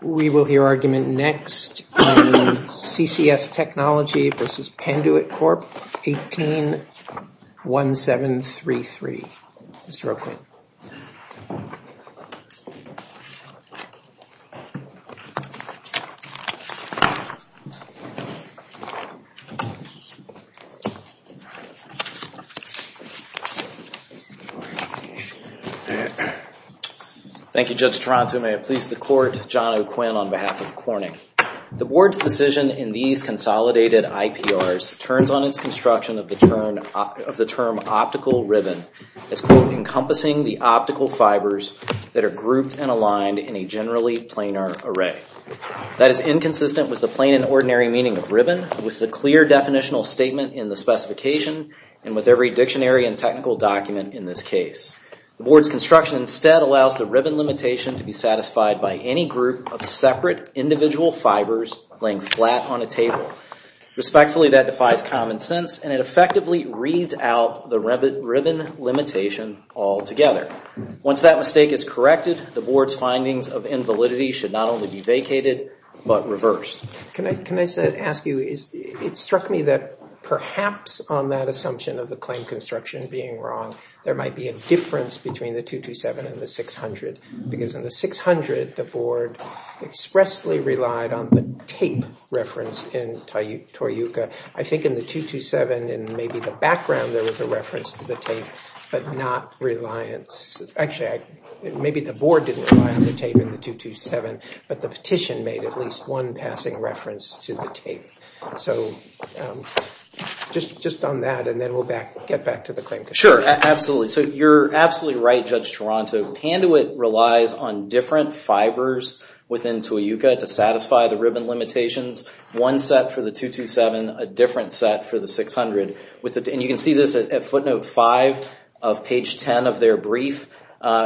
We will hear argument next in CCS Technology v. Penduit Corp. 18-1733. Mr. O'Quinn. Thank you, Judge Taranto. May it please the Court, John O'Quinn on behalf of Corning. The Board's decision in these consolidated IPRs turns on its construction of the term optical ribbon as, quote, encompassing the optical fibers that are grouped and aligned in a generally planar array. That is inconsistent with the plain and ordinary meaning of ribbon, with the clear definitional statement in the specification, and with every dictionary and technical document in this case. The Board's construction instead allows the ribbon limitation to be satisfied by any group of separate individual fibers laying flat on a table. Respectfully, that defies common sense, and it effectively reads out the ribbon limitation altogether. Once that mistake is corrected, the Board's findings of invalidity should not only be vacated, but reversed. Can I ask you, it struck me that perhaps on that assumption of the claim construction being wrong, there might be a difference between the 227 and the 600, because in the 600, the Board expressly relied on the tape reference in Toyuka. I think in the 227, but the petition made at least one passing reference to the tape. So just on that, and then we'll get back to the claim construction. Sure, absolutely. So you're absolutely right, Judge Toronto. Panduit relies on different fibers within Toyuka to satisfy the ribbon limitations. One set for the 227, a different set for the 600. And you can see this at footnote 5 of page 10 of their brief.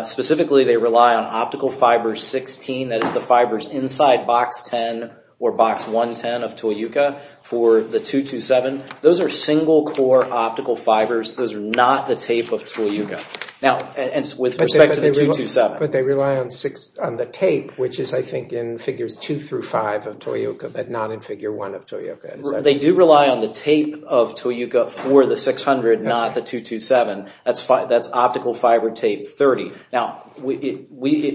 Specifically, they rely on optical fiber 16, that is the fibers inside box 10 or box 110 of Toyuka for the 227. Those are single core optical fibers. Those are not the tape of Toyuka. Now, and with respect to the 227. But they rely on the tape, which is, I think, in figures 2 through 5 of Toyuka, but not in figure 1 of Toyuka. They do rely on the tape of Toyuka for the 600, not the tape 30. Now,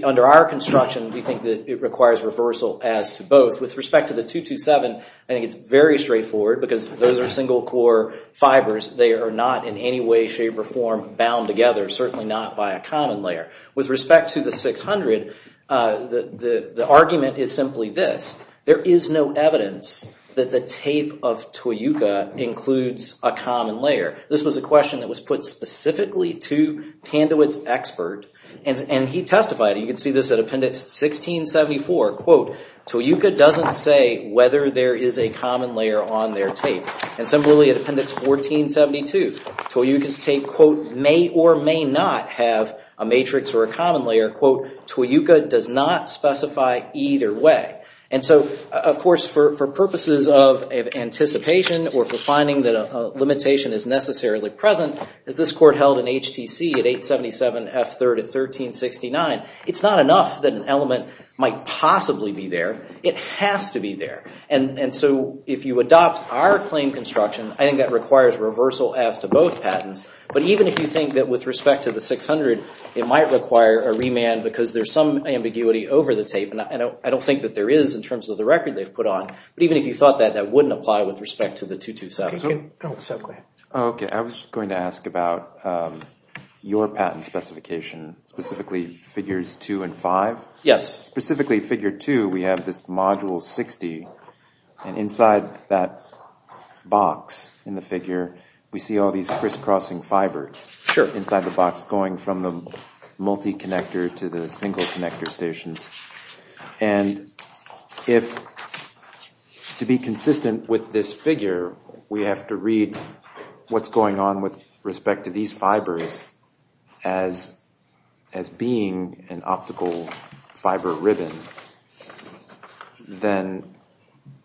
under our construction, we think that it requires reversal as to both. With respect to the 227, I think it's very straightforward because those are single core fibers. They are not in any way, shape, or form bound together, certainly not by a common layer. With respect to the 600, the argument is simply this. There is no evidence that the tape of Toyuka includes a common layer. Toyuka doesn't say whether there is a common layer on their tape. And similarly, at appendix 1472, Toyuka's tape, quote, may or may not have a matrix or a common layer, quote, Toyuka does not specify either way. And so, of course, for purposes of anticipation or the finding that a limitation is necessarily present, as this court held in HTC at 877 F3rd at 1369, it's not enough that an element might possibly be there. It has to be there. And so, if you adopt our claim construction, I think that requires reversal as to both patents. But even if you think that with respect to the 600, it might require a remand because there's some ambiguity over the tape. And I don't think that there is in terms of the record they've put on. But even if you thought that, that wouldn't apply with respect to the 227. I was going to ask about your patent specification, specifically figures 2 and 5. Yes. Specifically figure 2, we have this module 60, and inside that box in the figure, we see all these crisscrossing fibers. Sure. Inside the If, to be consistent with this figure, we have to read what's going on with respect to these fibers as being an optical fiber ribbon, then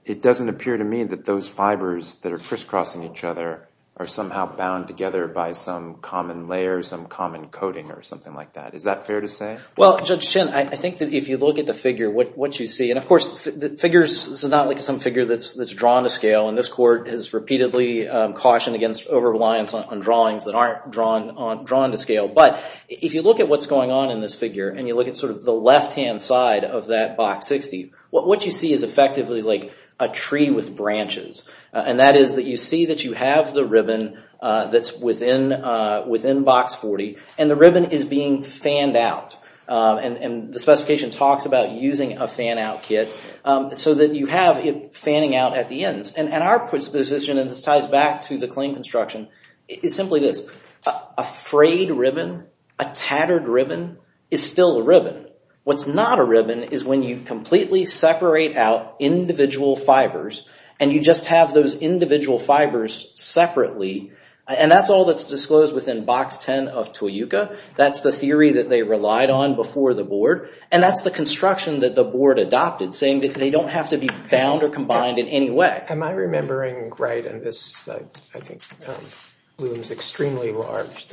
it doesn't appear to me that those fibers that are crisscrossing each other are somehow bound together by some common layer, some common coating, or something like that. Is that fair to say? Well, Judge Chin, I think that if you look at the figure, what you see, and of course, the figures, this is not like some figure that's drawn to scale, and this court has repeatedly cautioned against over-reliance on drawings that aren't drawn to scale. But if you look at what's going on in this figure, and you look at sort of the left-hand side of that box 60, what you see is effectively like a tree with branches. And that is that you see that you have the ribbon that's within box 40, and the ribbon is being fanned out. And the specification talks about using a fan-out kit so that you have it fanning out at the ends. And our position, and this ties back to the claim construction, is simply this. A frayed ribbon, a tattered ribbon, is still a ribbon. What's not a ribbon is when you completely separate out individual fibers, and you just have those individual fibers separately. And that's all that's disclosed within box 10 of Toyuka. That's the theory that they relied on before the board, and that's the construction that the board adopted, saying that they don't have to be bound or combined in any way. Am I remembering right, and this, I think, looms extremely large,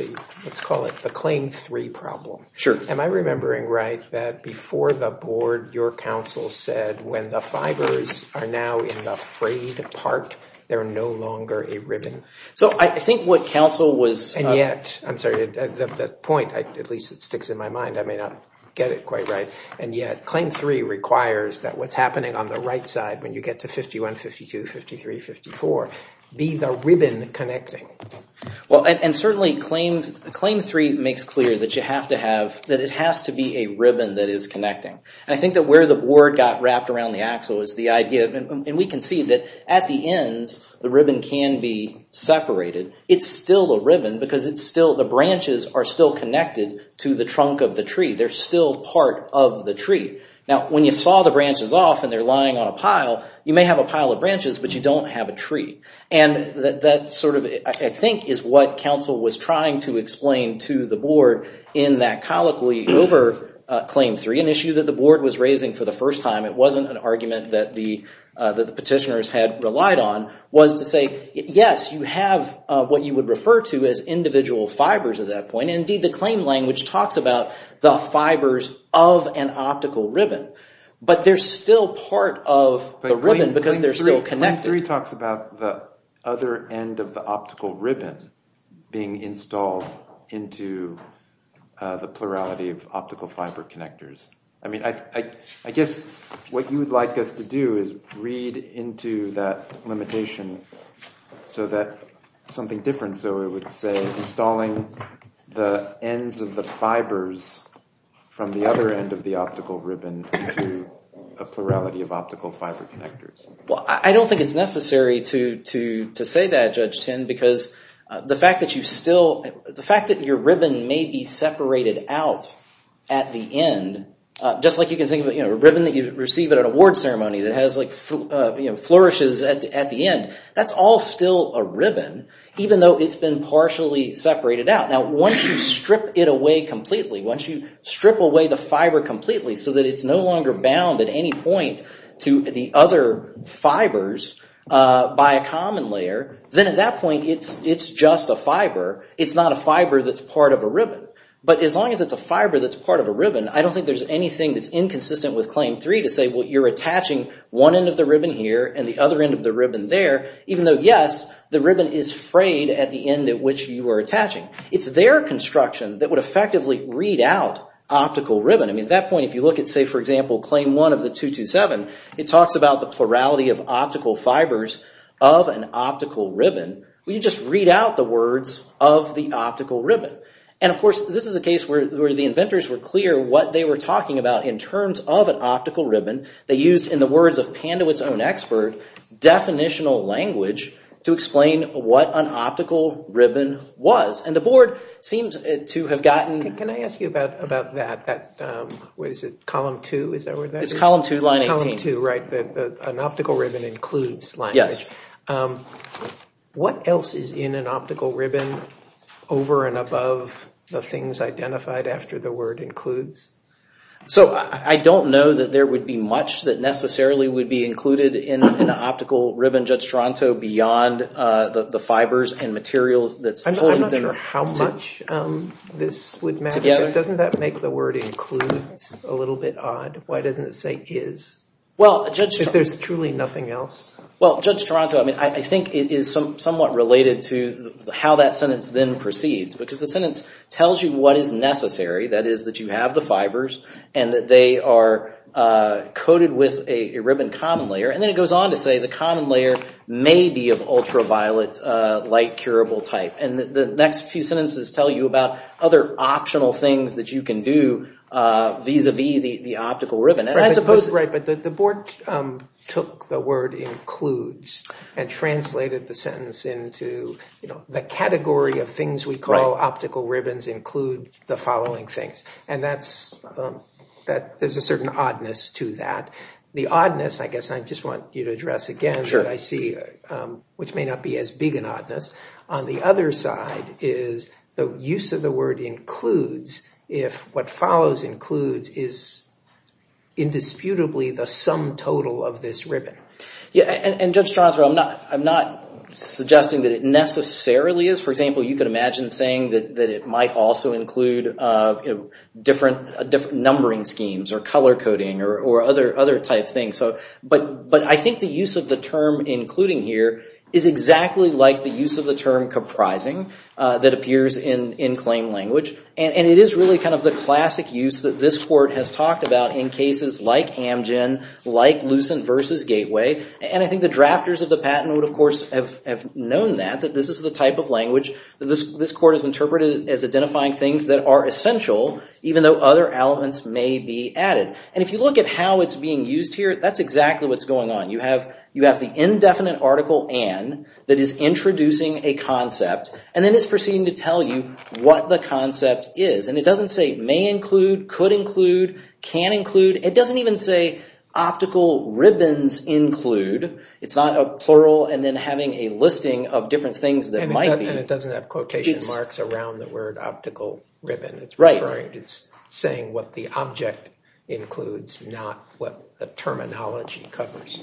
let's call it the Claim 3 problem. Sure. Am I remembering right that before the board, your counsel said, when the fibers are now in the frayed part, they're no longer a ribbon. So I think what counsel was... And yet, I'm sorry, the point, at least it sticks in my mind, I may not get it quite right, and yet Claim 3 requires that what's happening on the right side, when you get to 51, 52, 53, 54, be the ribbon connecting. Well, and certainly Claim 3 makes clear that you have to have, that it has to be a ribbon that is connecting. And I think that where the board got wrapped around the axle is the idea, and we can see that at the ends, the ribbon can be separated. It's still a ribbon because it's still, the branches are still connected to the trunk of the tree. They're still part of the tree. Now, when you saw the branches off and they're lying on a pile, you may have a pile of branches, but you don't have a tree. And that sort of, I think, is what counsel was trying to explain to the board in that colloquy over Claim 3, an issue that the board was raising for the petitioners had relied on, was to say, yes, you have what you would refer to as individual fibers at that point. Indeed, the claim language talks about the fibers of an optical ribbon, but they're still part of the ribbon because they're still connected. Claim 3 talks about the other end of the optical ribbon being installed into the plurality of optical fiber connectors. I mean, I guess what you would like us to do is read into that limitation so that something different, so it would say installing the ends of the fibers from the other end of the optical ribbon to a plurality of optical fiber connectors. Well, I don't think it's necessary to say that, Judge You can think of a ribbon that you receive at an award ceremony that flourishes at the end. That's all still a ribbon, even though it's been partially separated out. Now, once you strip it away completely, once you strip away the fiber completely so that it's no longer bound at any point to the other fibers by a common layer, then at that point it's just a fiber. It's not a fiber that's part of a ribbon. But as long as it's a fiber that's part of a ribbon, I don't think there's anything that's inconsistent with Claim 3 to say, well, you're attaching one end of the ribbon here and the other end of the ribbon there, even though, yes, the ribbon is frayed at the end at which you are attaching. It's their construction that would effectively read out optical ribbon. I mean, at that point, if you look at, say, for example, Claim 1 of the 227, it talks about the plurality of optical fibers of an optical ribbon. Well, you just read out the words of the optical ribbon. They used, in the words of Pandewitt's own expert, definitional language to explain what an optical ribbon was. And the board seems to have gotten... Can I ask you about that? What is it? Column 2? Is that where that is? It's column 2, line 18. Right, an optical ribbon includes language. What else is in an optical ribbon over and above the things identified after the word includes? So, I don't know that there would be much that necessarily would be included in an optical ribbon, Judge Toronto, beyond the fibers and materials that's pulling them together. I'm not sure how much this would matter. Doesn't that make the word includes a little bit odd? Why doesn't it say is, if there's truly nothing else? Well, Judge Toronto, I mean, I think it is somewhat related to how that sentence then proceeds, because the sentence tells you what is necessary, that is, that you have the fibers and that they are coated with a ribbon common layer, and then it goes on to say the common layer may be of ultraviolet light curable type. And the next few sentences tell you about other optional things that you can do vis-a-vis the optical ribbon. Right, but the board took the word includes and translated the sentence into, you know, the category of things we call optical ribbons include the following things, and that's, that there's a certain oddness to that. The oddness, I guess I just want you to address again, that I see, which may not be as big an oddness, on the other side is the use of the word includes if what follows includes is indisputably the sum total of this ribbon. Yeah, and Judge Toronto, I'm not suggesting that it necessarily is. For example, you could imagine saying that it might also include different numbering schemes or color coding or other type things. But I think the use of the term including here is exactly like the use of the term comprising that appears in claim language. And it is really kind of the classic use that this court has talked about in cases like drafters of the patent would, of course, have known that, that this is the type of language that this court has interpreted as identifying things that are essential, even though other elements may be added. And if you look at how it's being used here, that's exactly what's going on. You have the indefinite article and that is introducing a concept, and then it's proceeding to tell you what the concept is. And it doesn't say may include, could include, can include. It a plural and then having a listing of different things that might be. And it doesn't have quotation marks around the word optical ribbon. It's saying what the object includes, not what the terminology covers.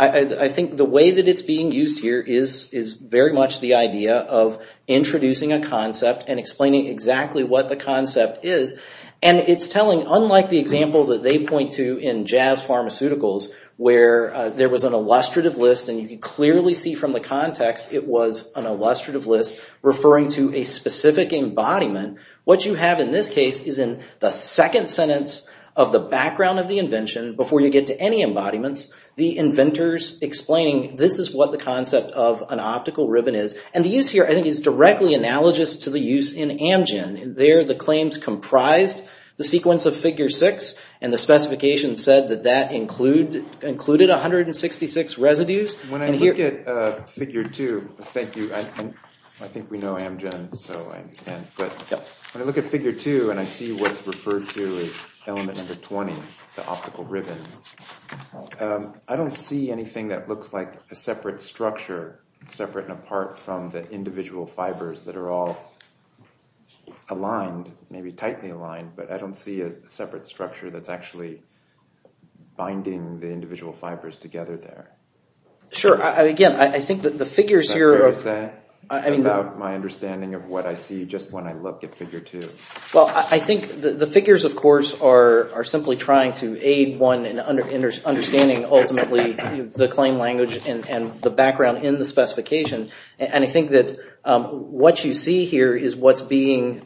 I think the way that it's being used here is very much the idea of introducing a concept and explaining exactly what the concept is. And it's telling, unlike the example that they point to in Jazz Pharmaceuticals, where there was an illustrative list and you could clearly see from the context, it was an illustrative list referring to a specific embodiment. What you have in this case is in the second sentence of the background of the invention, before you get to any embodiments, the inventors explaining this is what the concept of an optical ribbon is. And the use here, I think, is directly analogous to the use in Amgen. There, the claims comprised the sequence of figure six and the specification said that that included 166 residues. When I look at figure two, thank you, I think we know Amgen, but when I look at figure two and I see what's referred to as element number 20, the optical ribbon, I don't see anything that looks like a separate structure, separate and apart from the individual fibers that are all aligned, maybe tightly aligned, but I don't see a separate structure that's actually binding the individual fibers together there. Sure, again, I think that the figures here... Is that fair to say, about my understanding of what I see just when I look at figure two? Well, I think the figures, of course, are simply trying to aid one in understanding ultimately the claim language and the background in the specification. And I think that what you see here is what's being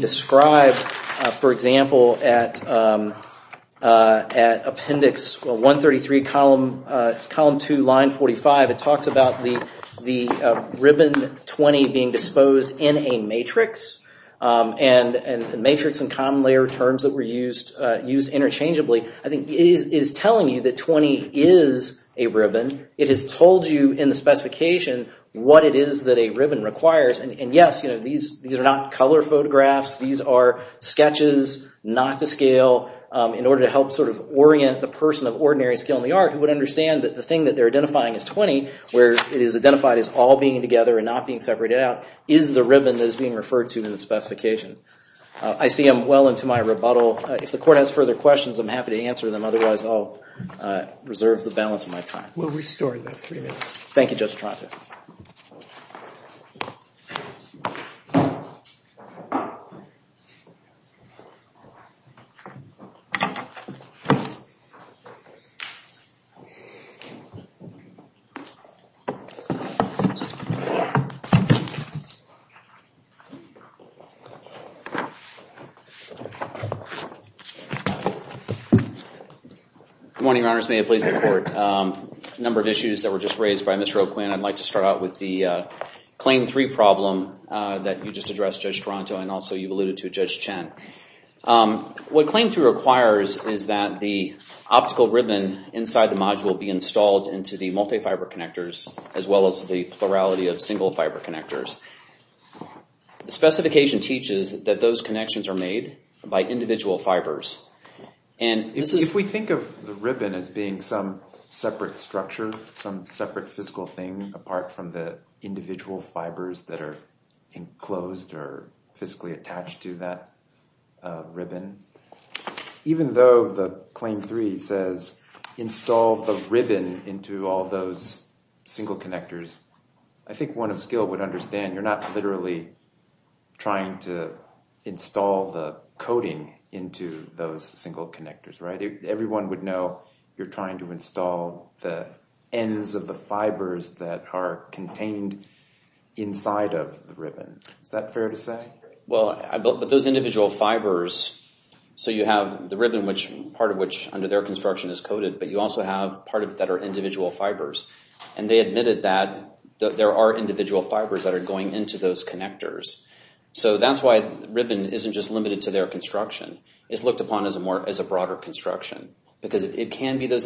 described, for example, at appendix 133, column two, line 45. It talks about the ribbon 20 being disposed in a matrix, and matrix and common layer terms that were used interchangeably. I think it is telling you that 20 is a ribbon. It has told you in the These are not color photographs. These are sketches, not to scale, in order to help sort of orient the person of ordinary skill in the art who would understand that the thing that they're identifying is 20, where it is identified as all being together and not being separated out, is the ribbon that is being referred to in the specification. I see I'm well into my rebuttal. If the court has further questions, I'm happy to answer them. Otherwise, I'll reserve the balance of my time. We'll restore that for you. Thank you, Judge Tronto. Good morning, Your Honors. May it please the court. A number of issues that were just raised by Mr. O'Quinn. I'd like to start out with the claim three problem that you just addressed, Judge Tronto, and also you alluded to Judge Chen. What claim three requires is that the optical ribbon inside the module be installed into the multi-fiber connectors, as well as the plurality of single-fiber connectors. The specification teaches that those connections are made by individual fibers. If we think of the ribbon as being some separate structure, some separate physical thing apart from individual fibers that are enclosed or physically attached to that ribbon, even though the claim three says install the ribbon into all those single connectors, I think one of skill would understand you're not literally trying to install the coating into those single connectors, right? Everyone would know you're trying to install the ends of the fibers that are contained inside of the ribbon. Is that fair to say? Well, those individual fibers, so you have the ribbon, part of which under their construction is coated, but you also have part of it that are individual fibers. They admitted that there are individual fibers that are going into those connectors. That's why ribbon isn't just limited to their construction. It's looked upon as a broader construction because it can be those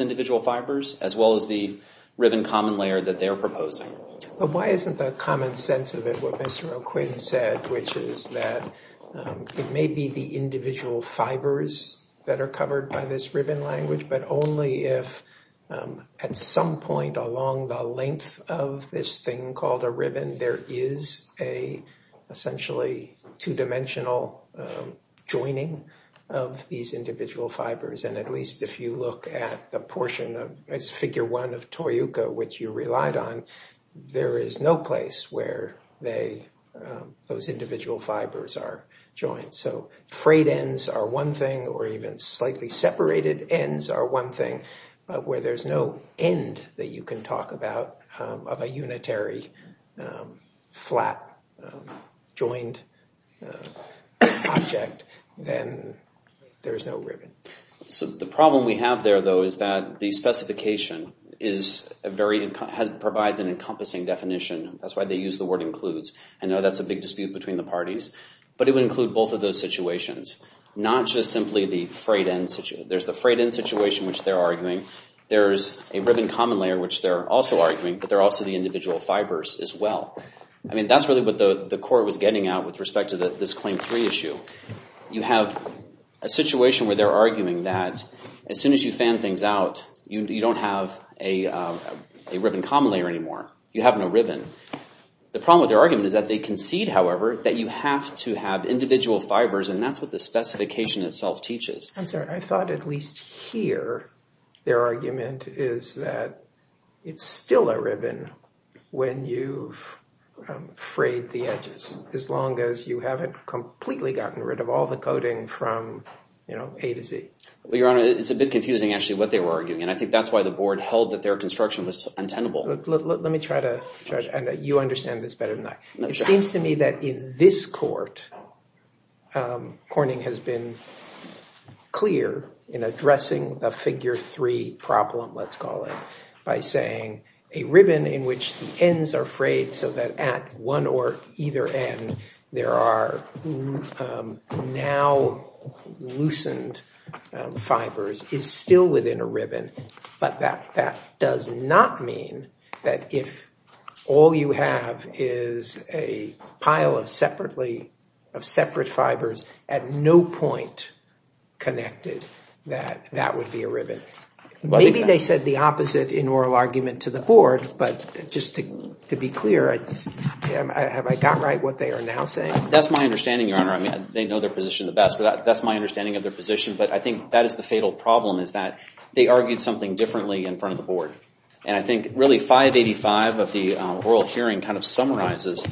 that they're proposing. But why isn't the common sense of it what Mr. O'Quinn said, which is that it may be the individual fibers that are covered by this ribbon language, but only if at some point along the length of this thing called a ribbon, there is a essentially two-dimensional joining of these individual fibers. And at least if you look at the portion as figure one of Toyuka, which you relied on, there is no place where those individual fibers are joined. So frayed ends are one thing, or even slightly separated ends are one thing, but where there's no end that you can talk about of a unitary flat joined object, then there is no ribbon. So the problem we have there though is that the specification provides an encompassing definition. That's why they use the word includes. I know that's a big dispute between the parties, but it would include both of those situations, not just simply the frayed end. There's the frayed end situation, which they're arguing. There's a ribbon common layer, which they're also arguing, but they're also the individual fibers as well. I mean that's what the court was getting at with respect to this claim three issue. You have a situation where they're arguing that as soon as you fan things out, you don't have a ribbon common layer anymore. You have no ribbon. The problem with their argument is that they concede, however, that you have to have individual fibers, and that's what the specification itself teaches. I thought at least here their argument is that it's still a ribbon when you've frayed the edges, as long as you haven't completely gotten rid of all the coding from A to Z. Well, Your Honor, it's a bit confusing actually what they were arguing, and I think that's why the board held that their construction was untenable. Let me try to... You understand this better than I. It seems to me that in this court, Corning has been clear in addressing a figure three problem, let's call it, by saying a ribbon in which the ends are frayed so that at one or either end there are now loosened fibers is still within a ribbon, but that does not mean that if all you have is a pile of separate fibers at no point connected that that would be a ribbon. Maybe they said the opposite in oral argument to the board, but just to be clear, have I got right what they are now saying? That's my understanding, Your Honor. I mean, they know their position the best, but that's my understanding of their position, but I think that is the fatal problem is that they argued something differently in front of the board, and I think really 585 of the oral hearing kind of summarizes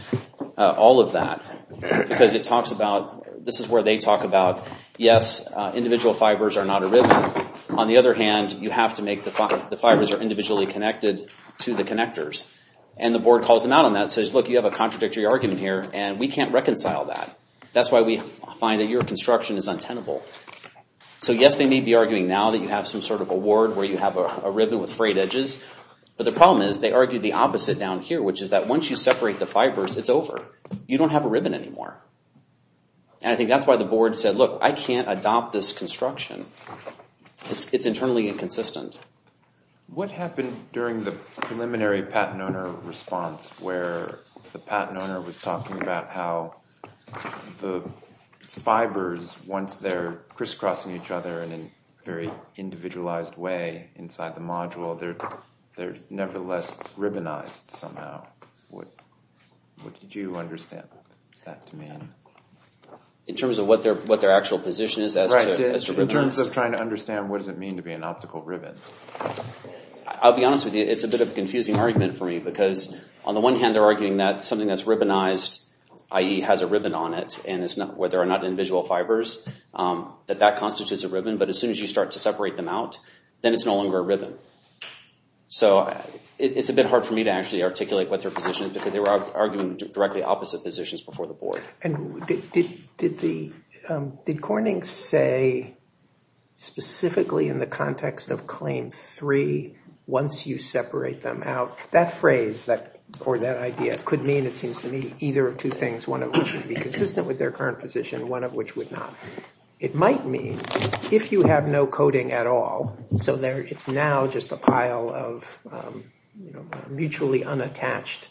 all of that because it talks about, this is where they talk about, yes, individual fibers are not a ribbon. On the other hand, you have to make the fibers are individually connected to the connectors, and the board calls them out on that and says, look, you have a contradictory argument here, and we can't reconcile that. That's why we find that your construction is untenable. So yes, they may be arguing now that you have some sort of a ward where you have a ribbon with frayed edges, but the problem is they argue the opposite down here, which is that once you separate the fibers, it's over. You don't have a ribbon anymore, and I think that's why the board said, look, I can't adopt this construction. It's internally inconsistent. What happened during the preliminary patent owner response where the patent owner was talking about how the fibers, once they're crisscrossing each other in a very individualized way inside the module, they're nevertheless ribbonized somehow. What did you understand that to mean? In terms of what their actual position is? In terms of trying to understand what does it mean to be an optical ribbon? I'll be honest with you. It's a bit of a confusing argument for me because on the one hand, they're arguing that something that's ribbonized, i.e. has a ribbon on it, and where there are not individual fibers, that that constitutes a ribbon, but as soon as you start to separate them out, then it's no longer a ribbon. So it's a bit hard for me to actually articulate what their position is because they were arguing directly opposite positions before the board. And did Corning say specifically in the context of Claim 3, once you separate them out, that phrase or that idea could mean, it seems to me, either of two things, one of which would be consistent with their current position, one of which would not. It might mean if you have no coding at all, so it's now just a pile of mutually unattached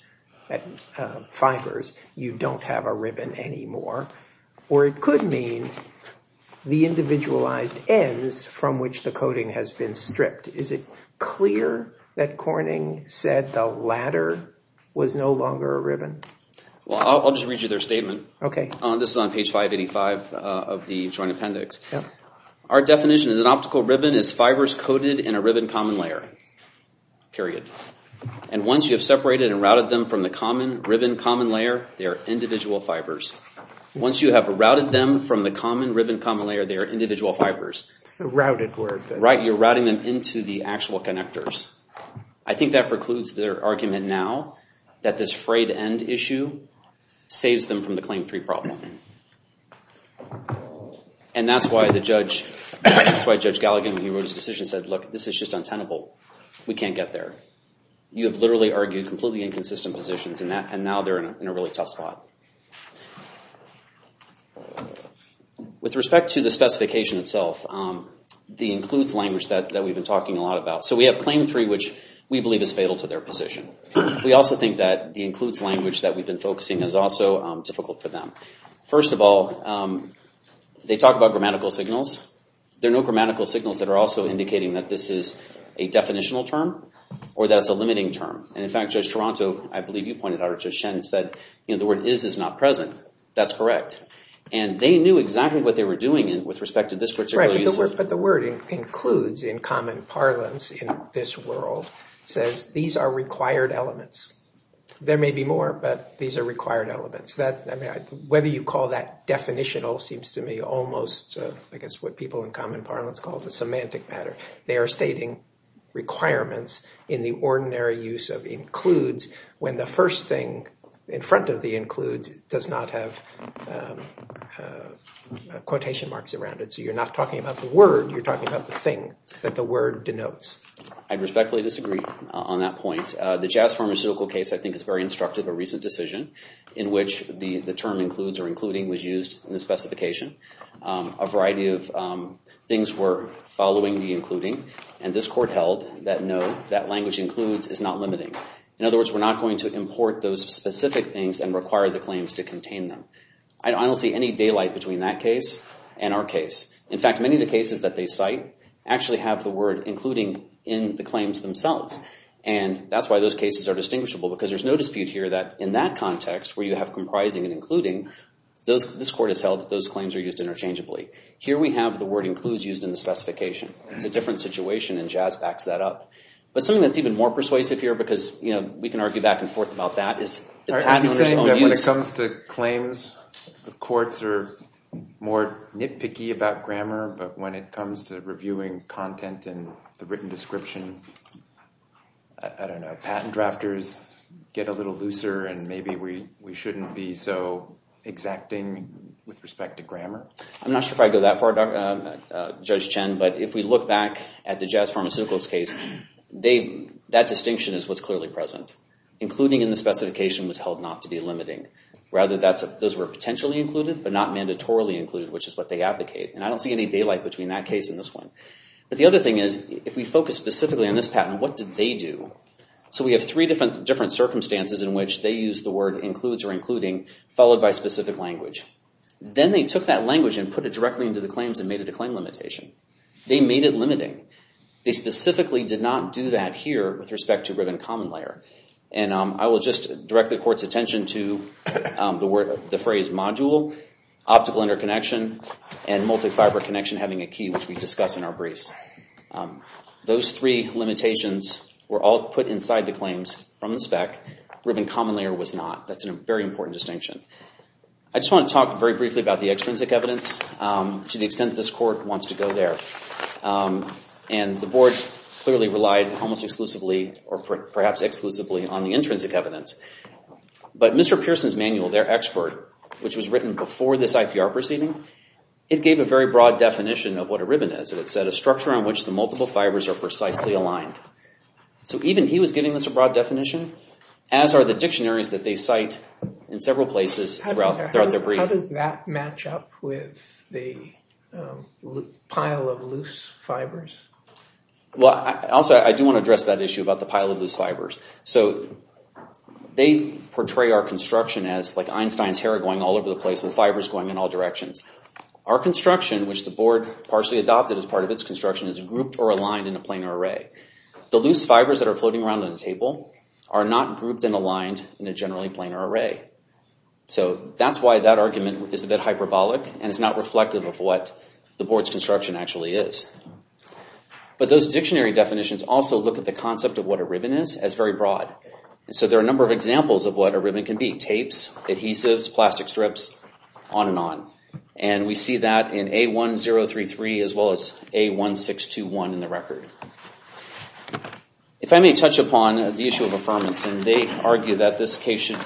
fibers, you don't have a ribbon anymore. Or it could mean the individualized ends from which the coding has been stripped. Is it clear that Corning said the latter was no longer a ribbon? Well, I'll just read you their statement. This is on page 585 of the Joint Appendix. Our definition is an optical ribbon is fibers coded in a ribbon common layer, period. And once you have separated and routed them from the common ribbon common layer, they are individual fibers. Once you have routed them from the common ribbon common layer, they are individual fibers. It's the routed word. Right, you're routing them into the actual connectors. I think that precludes their argument now that this frayed end issue saves them from the Claim 3 problem. And that's why Judge Galligan, when he wrote his decision, said, look, this is just untenable. We can't get there. You have literally argued completely inconsistent positions and now they're in a really tough spot. With respect to the specification itself, the includes language that we've been talking a lot about. So we have Claim 3, which we believe is fatal to their position. We also think that the includes language that we've been focusing is also difficult for them. First of all, they talk about grammatical signals. There are no grammatical signals that are also indicating that this is a definitional term or that it's limiting term. And in fact, Judge Toronto, I believe you pointed out, or Judge Shen said, the word is is not present. That's correct. And they knew exactly what they were doing with respect to this particular use. Right, but the word includes in common parlance in this world says these are required elements. There may be more, but these are required elements. Whether you call that definitional seems to me almost, I guess, what people in common parlance call the semantic matter. They are stating requirements in the ordinary use of includes when the first thing in front of the includes does not have quotation marks around it. So you're not talking about the word, you're talking about the thing that the word denotes. I respectfully disagree on that point. The Jazz Pharmaceutical case, I think, is very instructive. A recent decision in which the term includes or including was used in the specification. A variety of things were following the including, and this court held that no, that language includes is not limiting. In other words, we're not going to import those specific things and require the claims to contain them. I don't see any daylight between that case and our case. In fact, many of the cases that they cite actually have the word including in the claims themselves. And that's why those cases are distinguishable, because there's no dispute here that in that context where you have comprising and including, this court has held that those claims are used interchangeably. Here we have the word includes used in the specification. It's a different situation, and Jazz backs that up. But something that's even more persuasive here, because we can argue back and forth about that, is the patent owner's own use. When it comes to claims, the courts are more nitpicky about grammar, but when it comes to reviewing content in the written description, I don't know, patent drafters get a little looser, and maybe we shouldn't be so exacting with respect to grammar. I'm not sure if I'd go that far, Judge Chen, but if we look back at the Jazz Pharmaceuticals case, that distinction is what's clearly present. Including in the specification was held not to be limiting. Rather, those were potentially included, but not mandatorily included, which is what they advocate. And I don't see any daylight between that case and this one. But the other thing is, if we focus specifically on this patent, what did they do? So we have three different circumstances in which they use the word includes or including, followed by specific language. Then they took that language and put it directly into the claims and made it a claim limitation. They made it limiting. They specifically did not do that here with respect to ribbon common layer. And I will just direct the court's attention to the phrase module, optical interconnection, and multi-fiber connection having a key, which we discuss in our briefs. Those three limitations were all put inside the claims from the spec. Ribbon common layer was not. That's a very important distinction. I just want to talk very briefly about the extrinsic evidence, to the extent this court wants to go there. And the board clearly relied almost exclusively, or perhaps exclusively, on the intrinsic evidence. But Mr. Pearson's manual, their expert, which was written before this IPR proceeding, it gave a very broad definition of what a ribbon is. It said, a structure on which the multiple fibers are precisely aligned. So even he was giving this a broad definition, as are the dictionaries that they cite in several places throughout their brief. How does that match up with the pile of loose fibers? Well, also I do want to address that issue about the pile of loose fibers. So they portray our construction as like Einstein's hair going all over the place, with fibers going in all directions. Our construction, which the board partially adopted as part of its construction, is grouped or aligned in a planar array. The loose fibers that are floating around on the table are not grouped and aligned in a generally planar array. So that's why that argument is a bit hyperbolic, and it's not reflective of what the board's construction actually is. But those dictionary definitions also look at the concept of what a ribbon is as very broad. And so there are a number of examples of what a ribbon can be. Tapes, adhesives, plastic strips, on and on. And we see that in A1033, as well as A1621 in the record. If I may touch upon the issue of affirmation, they argue that this case should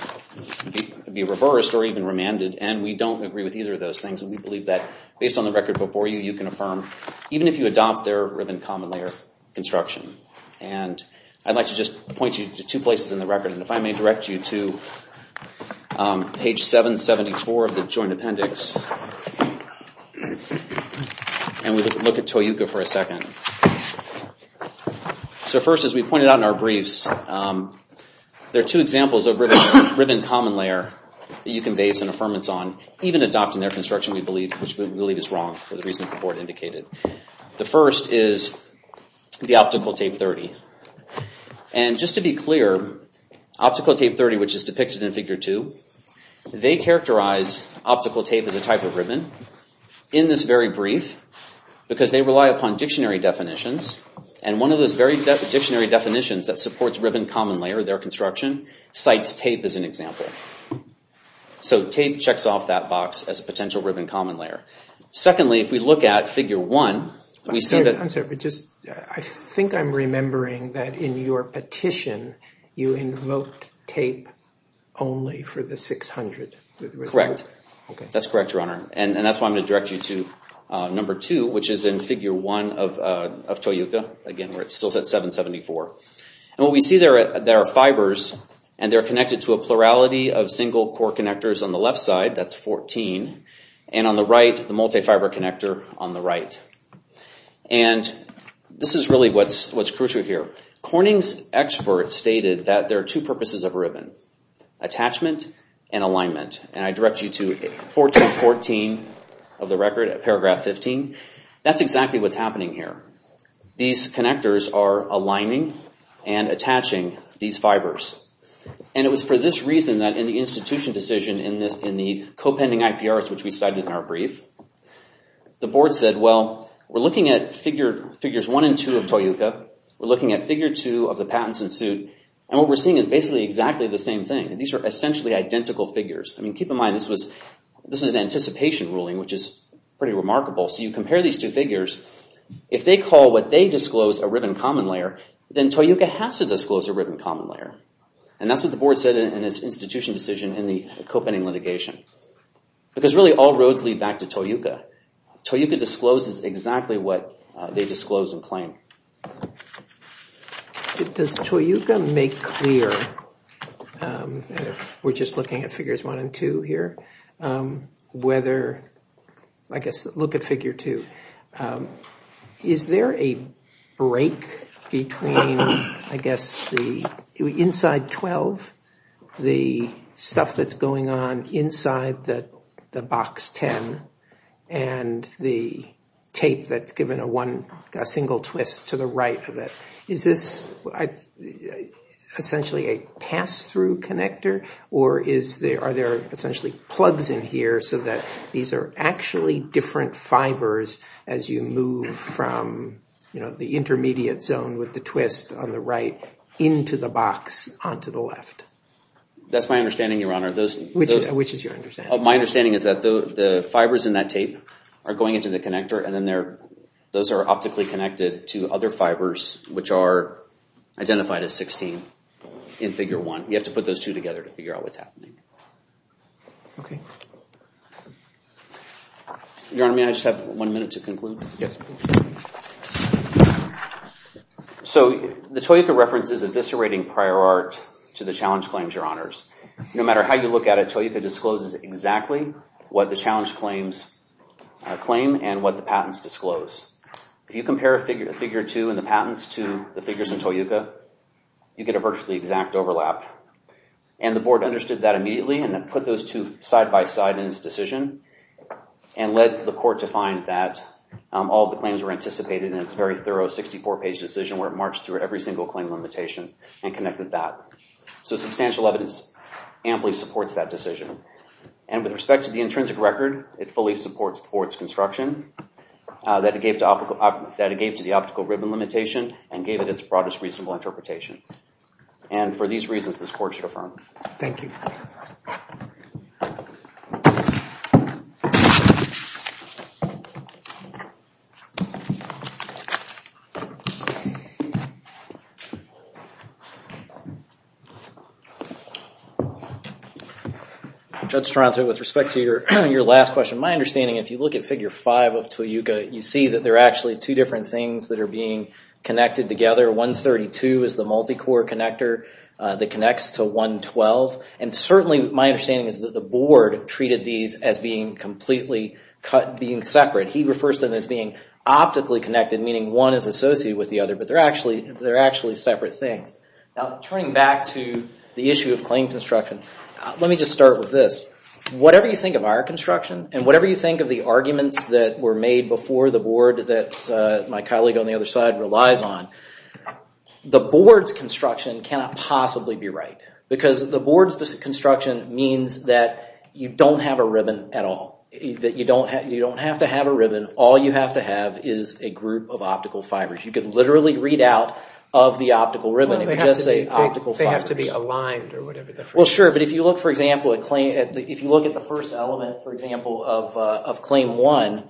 be reversed or even remanded. And we don't agree with either of those things. And we believe that based on the record before you, you can affirm even if you adopt their ribbon common layer construction. And I'd like to just point you to two places in the record. And if I may direct you to page 774 of the Joint Appendix. And we look at Toyuka for a second. So first, as we pointed out in our briefs, there are two examples of ribbon common layer that you can base an affirmance on, even adopting their construction, which we believe is wrong for the reasons the board indicated. The first is the optical tape 30. And just to be clear, optical tape 30, which is depicted in Figure 2, they characterize optical tape as a type of ribbon in this very brief, because they rely upon dictionary definitions. And one of those very dictionary definitions that supports ribbon common layer, their construction, cites tape as an example. So tape checks off that box as a potential ribbon common layer. Secondly, if we look at Figure 1, we see that... Only for the 600. Correct. That's correct, Your Honor. And that's why I'm going to direct you to Number 2, which is in Figure 1 of Toyuka, again, where it's still at 774. And what we see there are fibers, and they're connected to a plurality of single core connectors on the left side. That's 14. And on the right, the multi-fiber connector on the right. And this is really what's crucial here. Corning's experts stated that there are two purposes of ribbon, attachment and alignment. And I direct you to 14.14 of the record at paragraph 15. That's exactly what's happening here. These connectors are aligning and attaching these fibers. And it was for this reason that in the institution decision in the co-pending IPRs, which we cited in our brief, the board said, well, we're looking at Figures 1 and 2 of Toyuka. We're looking at Figure 2 of the patents in suit. And what we're seeing is basically exactly the same thing. These are essentially identical figures. I mean, keep in mind, this was an anticipation ruling, which is pretty remarkable. So you compare these two figures. If they call what they disclose a ribbon common layer, then Toyuka has to disclose a ribbon common layer. And that's what the board said in its institution decision in the co-pending litigation. Because really, all roads lead back to Toyuka. Toyuka discloses exactly what they disclose and claim. Does Toyuka make clear, we're just looking at Figures 1 and 2 here, whether, I guess, look at Figure 2. Is there a break between, I guess, the inside 12, the stuff that's going on inside the box 10, and the tape that's given a single twist to the right? Is this essentially a pass-through connector? Or are there essentially plugs in here so that these are actually different fibers as you move from the intermediate zone with the twist on the right into the box onto the left? That's my understanding, Your Honor. Which is your understanding? My understanding is that the fibers in that tape are going into the connector, and then those are optically connected to other fibers, which are identified as 16 in Figure 1. You have to put those two together to figure out what's happening. Your Honor, may I just have one minute to conclude? Yes. So the Toyuka reference is eviscerating prior art to the challenge claims, Your Honors. No matter how you look at it, Toyuka discloses exactly what the challenge claims claim and what the patents disclose. If you compare Figure 2 and the patents to the figures in Toyuka, you get a virtually exact overlap. And the Board understood that immediately and put those two side-by-side in its decision and led the Court to find that all the claims were anticipated in its very thorough 64-page decision where it marched through every single claim limitation and connected that. So substantial evidence amply supports that decision. And with respect to the intrinsic record, it fully supports the Board's construction that it gave to the optical ribbon limitation and gave it its broadest reasonable interpretation. And for these reasons, this Court should affirm. Thank you. Judge Stronser, with respect to your last question, my understanding, if you look at Figure 5 of Toyuka, you see that there are actually two different things that are being connected together. 132 is the multi-core connector that connects to 112. And certainly, my understanding is that the Board treated these as being completely cut, being separate. He refers to them as being optically connected, meaning one is associated with the other, but they're actually separate things. Now, turning back to the issue of claim construction, let me just start with this. Whatever you think of our construction and whatever you think of the arguments that were made before the Board that my colleague on the other side relies on, the Board's construction cannot possibly be right. Because the Board's construction means that you don't have a ribbon at all. You don't have to have a ribbon. All you have to have is a group of the optical ribbon. Well, they have to be aligned or whatever. Well, sure. But if you look, for example, at the first element, for example, of Claim 1,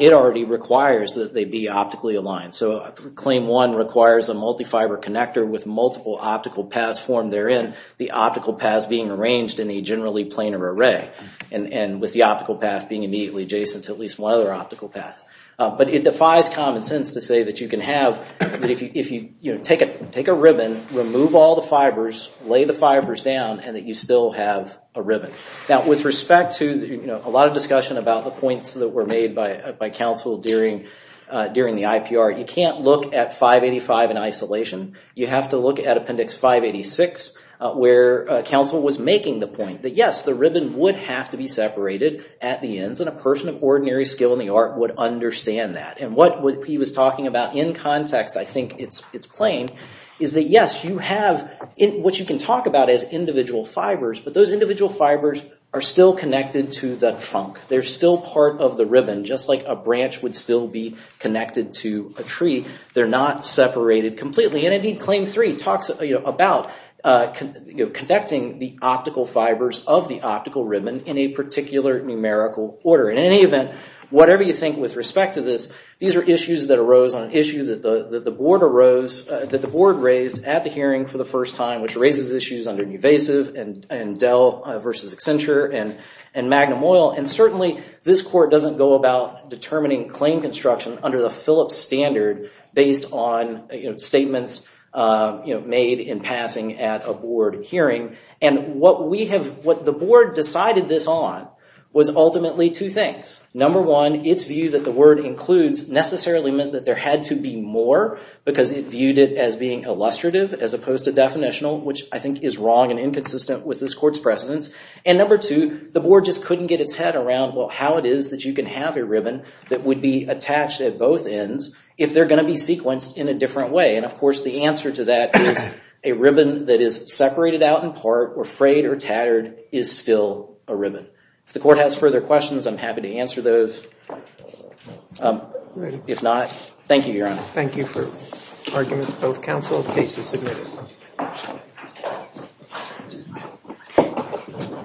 it already requires that they be optically aligned. So Claim 1 requires a multi-fiber connector with multiple optical paths formed therein, the optical paths being arranged in a generally planar array, and with the optical path being immediately adjacent to at least one other optical path. But it defies common sense to say that you can have, if you take a ribbon, remove all the fibers, lay the fibers down, and that you still have a ribbon. Now, with respect to a lot of discussion about the points that were made by counsel during the IPR, you can't look at 585 in isolation. You have to look at Appendix 586, where counsel was making the point that, yes, the ribbon would have to be separated at the ends, and a person of ordinary skill in the art would understand that. And what he was talking about in context, I think it's plain, is that, yes, you have what you can talk about as individual fibers, but those individual fibers are still connected to the trunk. They're still part of the ribbon, just like a branch would still be connected to a tree. They're not separated completely. And, indeed, Claim 3 talks about connecting the optical fibers of the optical ribbon in a particular numerical order. In any event, whatever you think with respect to this, these are issues that arose on an issue that the Board raised at the hearing for the first time, which raises issues under Nuvasiv and Dell versus Accenture and Magnum Oil. And, certainly, this Court doesn't go about determining claim construction under the Phillips standard based on statements made in passing at a hearing. The Board decided this on was ultimately two things. Number one, its view that the word includes necessarily meant that there had to be more, because it viewed it as being illustrative as opposed to definitional, which I think is wrong and inconsistent with this Court's precedence. And, number two, the Board just couldn't get its head around, well, how it is that you can have a ribbon that would be attached at both ends if they're going to be sequenced in a different way. And, of course, the answer to that is a ribbon that is separated out in part or frayed or tattered is still a ribbon. If the Court has further questions, I'm happy to answer those. If not, thank you, Your Honor. Thank you for arguments, both counsel. Case is submitted.